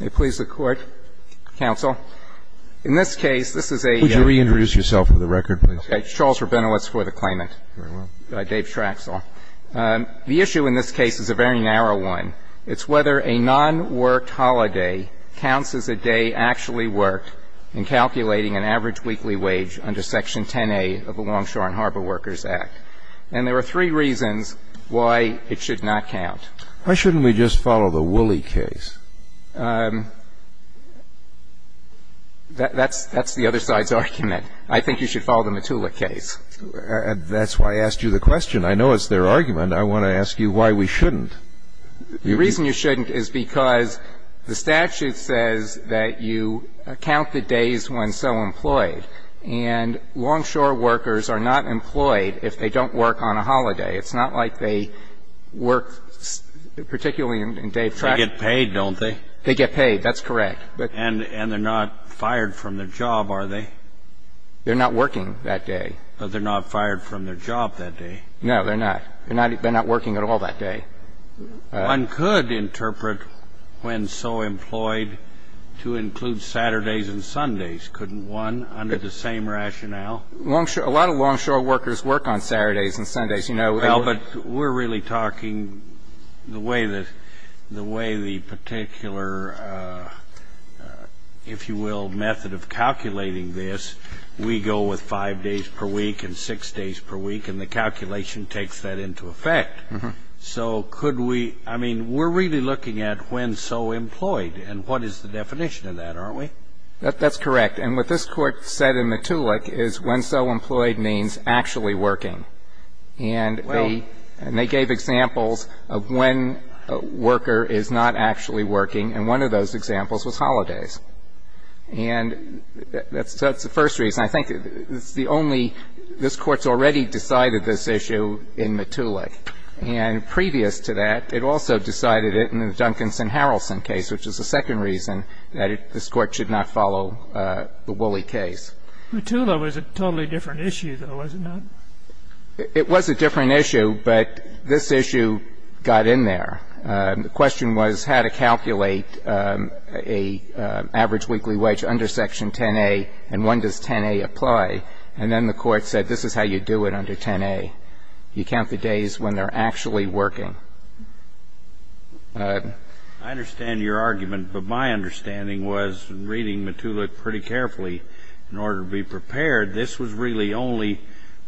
May it please the Court, Counsel. In this case, this is a- Would you reintroduce yourself for the record, please? Okay. Charles Rabinowitz for the claimant. Very well. Dave Trachsel. The issue in this case is a very narrow one. It's whether a non-worked holiday counts as a day actually worked in calculating an average weekly wage under Section 10A of the Longshore and Harbor Workers Act. And there are three reasons why it should not count. Why shouldn't we just follow the Woolley case? That's the other side's argument. I think you should follow the Matula case. That's why I asked you the question. I know it's their argument. I want to ask you why we shouldn't. The reason you shouldn't is because the statute says that you count the days when so employed. And longshore workers are not employed if they don't work on a holiday. It's not like they work particularly in day track. They get paid, don't they? They get paid. That's correct. And they're not fired from their job, are they? They're not working that day. But they're not fired from their job that day. No, they're not. They're not working at all that day. One could interpret when so employed to include Saturdays and Sundays, couldn't one, under the same rationale? A lot of longshore workers work on Saturdays and Sundays. Well, but we're really talking the way the particular, if you will, method of calculating this, we go with five days per week and six days per week, and the calculation takes that into effect. So could we ‑‑ I mean, we're really looking at when so employed, and what is the definition of that, aren't we? That's correct. And what this Court said in Matulak is when so employed means actually working. And they gave examples of when a worker is not actually working, and one of those examples was holidays. And that's the first reason. I think it's the only ‑‑ this Court's already decided this issue in Matulak. And previous to that, it also decided it in the Duncanson‑Harrison case, which is the second reason that this Court should not follow the Woolley case. Matulak was a totally different issue, though, was it not? It was a different issue, but this issue got in there. The question was how to calculate an average weekly wage under Section 10A, and when does 10A apply. And then the Court said this is how you do it under 10A. You count the days when they're actually working. I understand your argument, but my understanding was, reading Matulak pretty carefully in order to be prepared, this was really only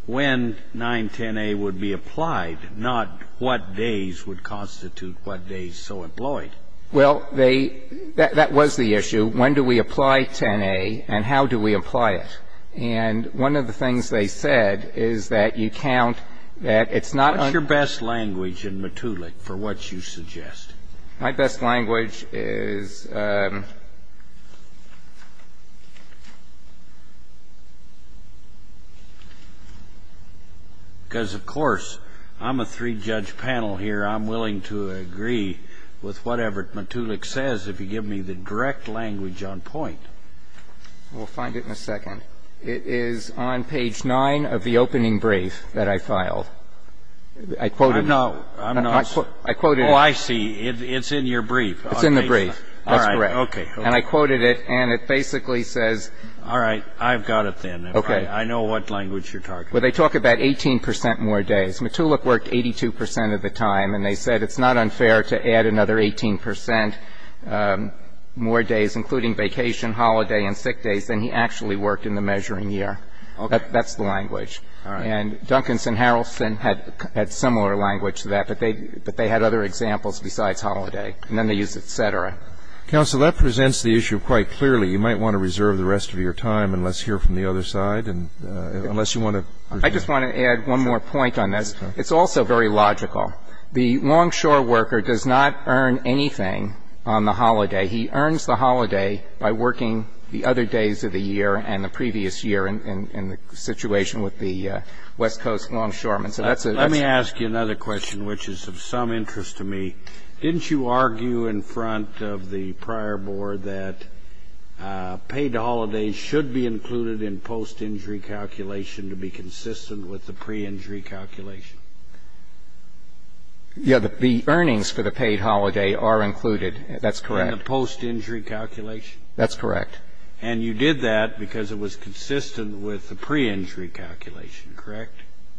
when 910A would be applied, not what days would constitute what days so employed. Well, they ‑‑ that was the issue. When do we apply 10A, and how do we apply it? And one of the things they said is that you count that it's not ‑‑ What's your best language in Matulak for what you suggest? My best language is ‑‑ because, of course, I'm a three‑judge panel here. I'm willing to agree with whatever Matulak says if you give me the direct language on point. We'll find it in a second. It is on page 9 of the opening brief that I filed. I quoted it. I'm not ‑‑ I quoted it. Oh, I see. It's in your brief. It's in the brief. That's correct. All right. Okay. And I quoted it, and it basically says ‑‑ All right. I've got it then. Okay. I know what language you're talking about. Well, they talk about 18 percent more days. Matulak worked 82 percent of the time, and they said it's not unfair to add another 18 percent more days, including vacation, holiday, and sick days than he actually worked in the measuring year. Okay. That's the language. All right. And Duncanson Harrelson had similar language to that, but they had other examples besides holiday. And then they used et cetera. Counsel, that presents the issue quite clearly. You might want to reserve the rest of your time and let's hear from the other side, unless you want to ‑‑ I just want to add one more point on this. It's also very logical. The longshore worker does not earn anything on the holiday. He earns the holiday by working the other days of the year and the previous year in the situation with the West Coast longshoreman. So that's a ‑‑ Let me ask you another question, which is of some interest to me. Didn't you argue in front of the prior board that paid holidays should be included in post-injury calculation to be consistent with the pre-injury calculation? Yeah, the earnings for the paid holiday are included. That's correct. In the post-injury calculation? That's correct. And you did that because it was consistent with the pre-injury calculation, correct?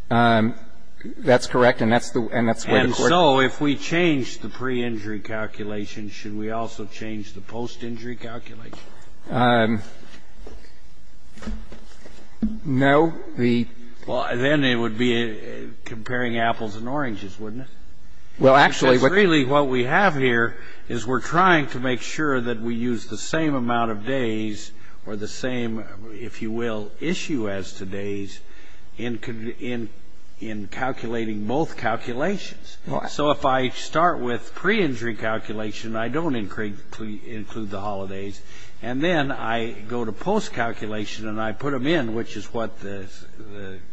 That's correct, and that's where the court ‑‑ And so if we change the pre-injury calculation, should we also change the post-injury calculation? No. Well, then it would be comparing apples and oranges, wouldn't it? Well, actually ‑‑ But really what we have here is we're trying to make sure that we use the same amount of days or the same, if you will, issue as today's in calculating both calculations. So if I start with pre-injury calculation, I don't include the holidays, and then I go to post-calculation and I put them in, which is what the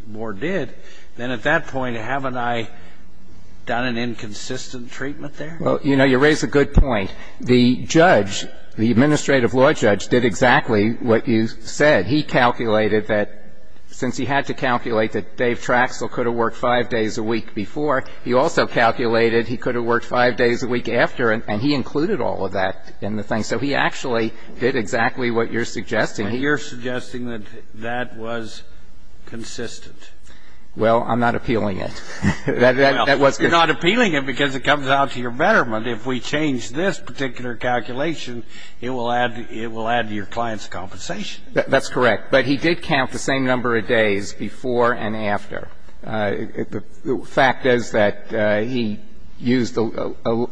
board did, then at that point, haven't I done an inconsistent treatment there? Well, you know, you raise a good point. The judge, the administrative law judge, did exactly what you said. He calculated that since he had to calculate that Dave Traxler could have worked five days a week before, he also calculated he could have worked five days a week after and he included all of that in the thing. So he actually did exactly what you're suggesting. You're suggesting that that was consistent. Well, I'm not appealing it. You're not appealing it because it comes out to your betterment. If we change this particular calculation, it will add to your client's compensation. That's correct. But he did count the same number of days before and after. The fact is that he used a ‑‑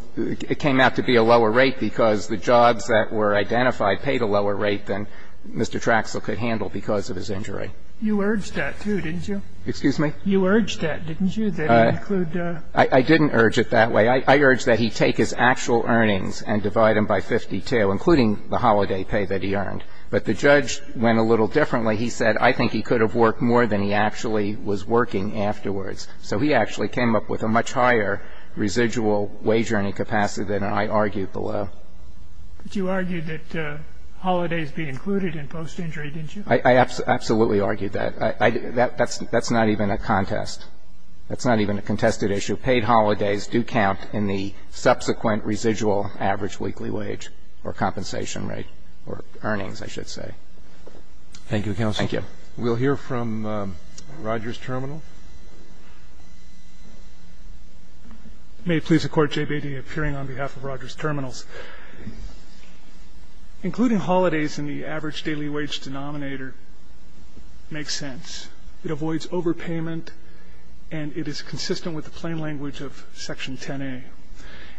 it came out to be a lower rate because the jobs that were identified paid a lower rate than Mr. Traxler could handle because of his injury. You urged that, too, didn't you? Excuse me? You urged that, didn't you, that he include ‑‑ I didn't urge it that way. I urged that he take his actual earnings and divide them by 52, including the holiday pay that he earned. But the judge went a little differently. He said I think he could have worked more than he actually was working afterwards. So he actually came up with a much higher residual wage earning capacity than I argued below. But you argued that holidays be included in post-injury, didn't you? I absolutely argued that. That's not even a contest. That's not even a contested issue. Paid holidays do count in the subsequent residual average weekly wage or compensation rate or earnings, I should say. Thank you, counsel. Thank you. We'll hear from Rogers Terminal. May it please the Court, Jay Beatty, appearing on behalf of Rogers Terminals. Including holidays in the average daily wage denominator makes sense. It avoids overpayment, and it is consistent with the plain language of Section 10A.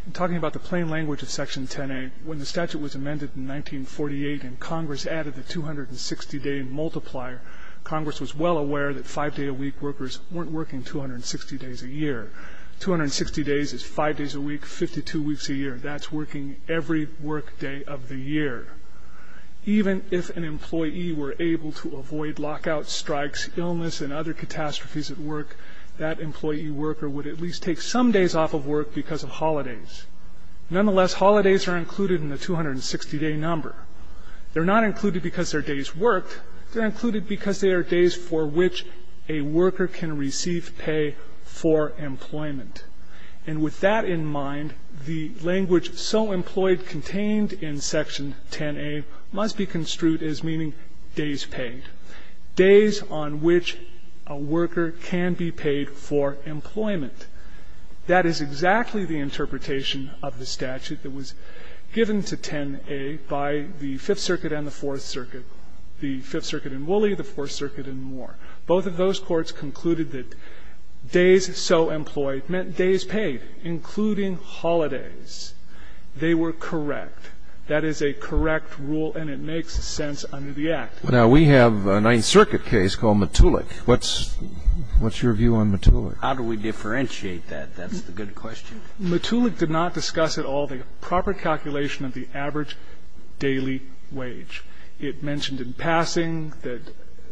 In talking about the plain language of Section 10A, when the statute was amended in 1948 and Congress added the 260-day multiplier, Congress was well aware that five-day-a-week workers weren't working 260 days a year. Two hundred and sixty days is five days a week, 52 weeks a year. That's working every workday of the year. Even if an employee were able to avoid lockout strikes, illness, and other catastrophes at work, that employee worker would at least take some days off of work because of holidays. Nonetheless, holidays are included in the 260-day number. They're not included because they're days worked. They're included because they are days for which a worker can receive pay for employment. And with that in mind, the language so employed contained in Section 10A must be construed as meaning days paid, days on which a worker can be paid for employment. That is exactly the interpretation of the statute that was given to 10A by the Fifth Circuit and the Fourth Circuit, the Fifth Circuit in Wooley, the Fourth Circuit in Moore. Both of those courts concluded that days so employed meant days paid, including holidays. They were correct. That is a correct rule, and it makes sense under the Act. Now, we have a Ninth Circuit case called Matulik. What's your view on Matulik? How do we differentiate that? That's the good question. Matulik did not discuss at all the proper calculation of the average daily wage. It mentioned in passing that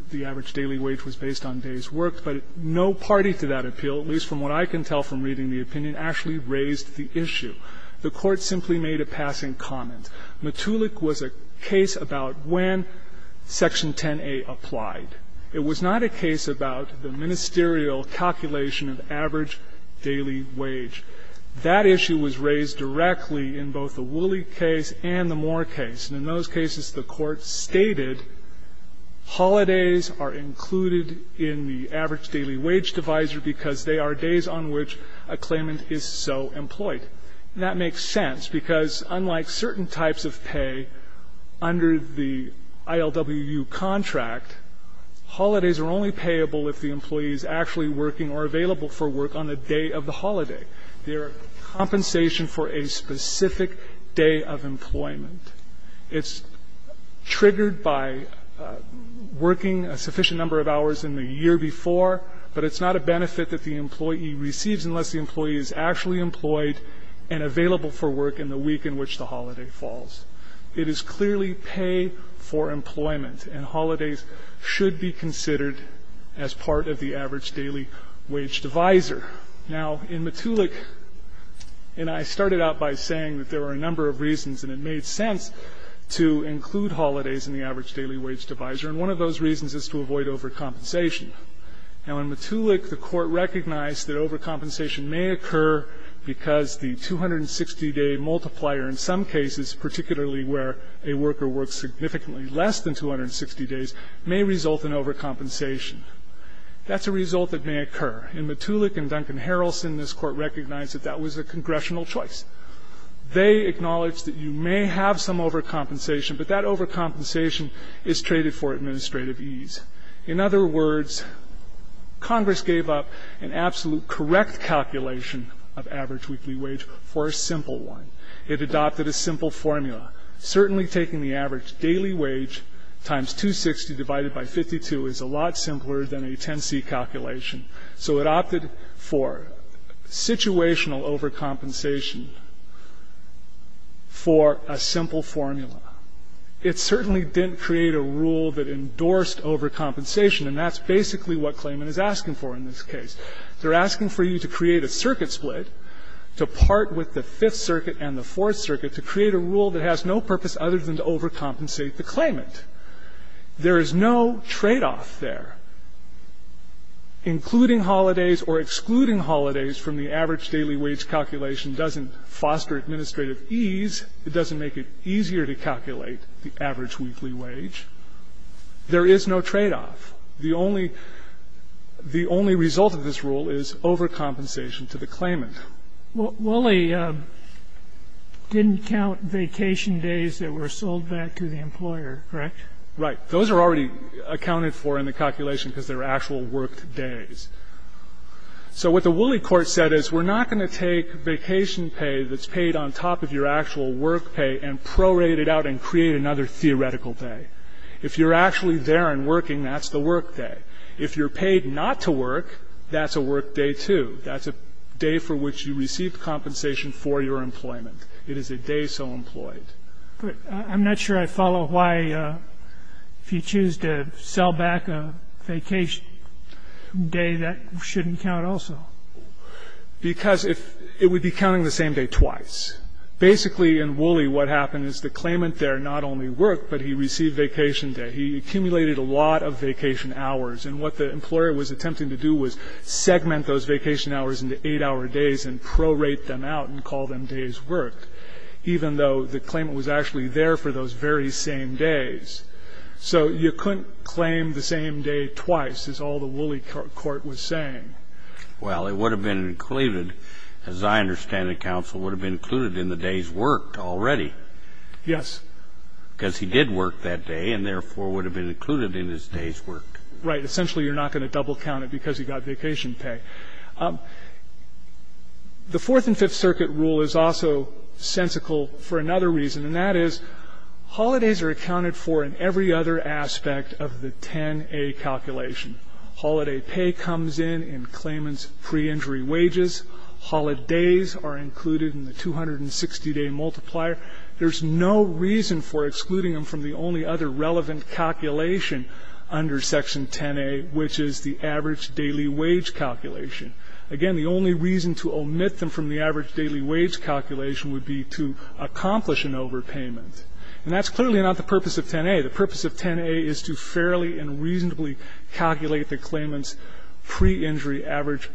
the average daily wage was based on days worked. But no party to that appeal, at least from what I can tell from reading the opinion, actually raised the issue. The Court simply made a passing comment. Matulik was a case about when Section 10A applied. It was not a case about the ministerial calculation of average daily wage. That issue was raised directly in both the Wooley case and the Moore case. And in those cases, the Court stated holidays are included in the average daily wage divisor because they are days on which a claimant is so employed. And that makes sense, because unlike certain types of pay under the ILWU contract, holidays are only payable if the employee is actually working or available for work on the day of the holiday. They are compensation for a specific day of employment. It's triggered by working a sufficient number of hours in the year before, but it's not a benefit that the employee receives unless the employee is actually employed and available for work in the week in which the holiday falls. It is clearly pay for employment, and holidays should be considered as part of the average daily wage divisor. Now, in Matulik, and I started out by saying that there were a number of reasons and it made sense to include holidays in the average daily wage divisor, and one of those reasons is to avoid overcompensation. Now, in Matulik, the Court recognized that overcompensation may occur because the 260-day multiplier in some cases, particularly where a worker works significantly less than 260 days, may result in overcompensation. That's a result that may occur. In Matulik and Duncan Harrelson, this Court recognized that that was a congressional choice. They acknowledged that you may have some overcompensation, but that overcompensation is traded for administrative ease. In other words, Congress gave up an absolute correct calculation of average weekly wage for a simple one. It adopted a simple formula. Certainly taking the average daily wage times 260 divided by 52 is a lot simpler than a 10C calculation. So it opted for situational overcompensation for a simple formula. It certainly didn't create a rule that endorsed overcompensation, and that's basically what claimant is asking for in this case. They're asking for you to create a circuit split to part with the Fifth Circuit and the Fourth Circuit to create a rule that has no purpose other than to overcompensate the claimant. There is no tradeoff there. Including holidays or excluding holidays from the average daily wage calculation doesn't foster administrative ease. It doesn't make it easier to calculate the average weekly wage. There is no tradeoff. The only result of this rule is overcompensation to the claimant. Well, Woolley didn't count vacation days that were sold back to the employer, correct? Right. Those are already accounted for in the calculation because they're actual work days. So what the Woolley court said is we're not going to take vacation pay that's paid on top of your actual work pay and prorate it out and create another theoretical day. If you're actually there and working, that's the work day. If you're paid not to work, that's a work day, too. That's a day for which you receive compensation for your employment. It is a day so employed. But I'm not sure I follow why if you choose to sell back a vacation day, that shouldn't count also. Because it would be counting the same day twice. Basically, in Woolley, what happened is the claimant there not only worked, but he received vacation day. He accumulated a lot of vacation hours. And what the employer was attempting to do was segment those vacation hours into eight-hour days and prorate them out and call them days worked, even though the claimant was actually there for those very same days. So you couldn't claim the same day twice, as all the Woolley court was saying. Well, it would have been included, as I understand it, counsel would have been included in the days worked already. Yes. Because he did work that day and, therefore, would have been included in his days worked. Right. Essentially, you're not going to double count it because he got vacation pay. The Fourth and Fifth Circuit rule is also sensical for another reason, and that is holidays are accounted for in every other aspect of the 10A calculation. Holiday pay comes in in claimant's pre-injury wages. Holidays are included in the 260-day multiplier. There's no reason for excluding them from the only other relevant calculation under Section 10A, which is the average daily wage calculation. Again, the only reason to omit them from the average daily wage calculation would be to accomplish an overpayment. And that's clearly not the purpose of 10A. The purpose of 10A is to fairly and reasonably calculate the claimant's pre-injury average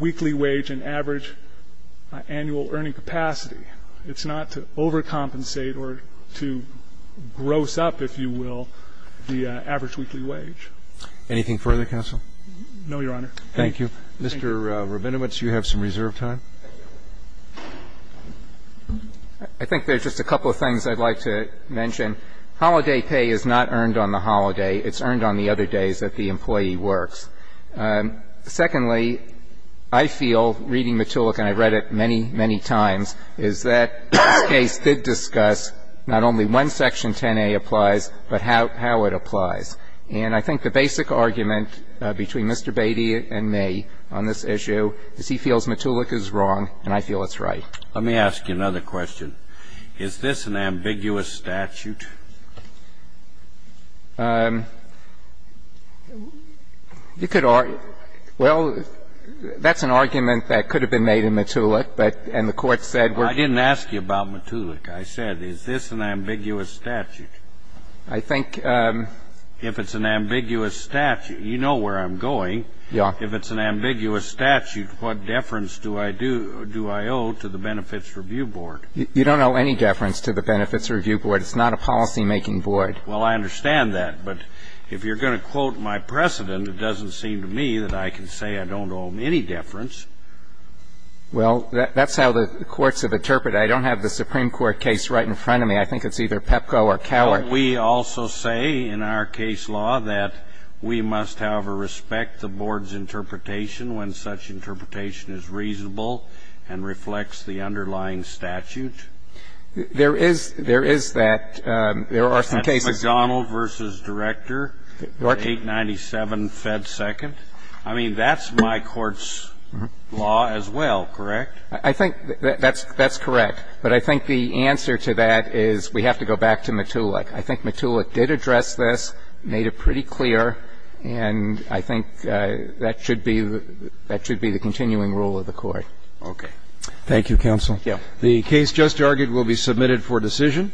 weekly wage and average annual earning capacity. It's not to overcompensate or to gross up, if you will, the average weekly wage. Anything further, counsel? No, Your Honor. Thank you. Mr. Rabinowitz, you have some reserve time. I think there's just a couple of things I'd like to mention. Holiday pay is not earned on the holiday. It's earned on the other days that the employee works. Secondly, I feel, reading Matulak, and I've read it many, many times, is that this case did discuss not only when Section 10A applies, but how it applies. And I think the basic argument between Mr. Beatty and me on this issue is he feels Matulak is wrong and I feel it's right. Let me ask you another question. Is this an ambiguous statute? You could argue – well, that's an argument that could have been made in Matulak, but – and the Court said we're – I didn't ask you about Matulak. I said is this an ambiguous statute? I think – If it's an ambiguous statute, you know where I'm going. Yeah. If it's an ambiguous statute, what deference do I do – do I owe to the Benefits Review Board? You don't owe any deference to the Benefits Review Board. It's not a policymaking board. Well, I understand that. But if you're going to quote my precedent, it doesn't seem to me that I can say I don't owe any deference. Well, that's how the courts have interpreted it. I don't have the Supreme Court case right in front of me. I think it's either PEPCO or Cowart. Don't we also say in our case law that we must, however, respect the board's interpretation when such interpretation is reasonable and reflects the underlying statute? There is – there is that. There are some cases – That's McDonnell v. Director, 897 Fed Second. I mean, that's my court's law as well, correct? I think that's correct. But I think the answer to that is we have to go back to Matulak. I think Matulak did address this, made it pretty clear, and I think that should be the continuing rule of the Court. Thank you, counsel. Thank you. The case just argued will be submitted for decision.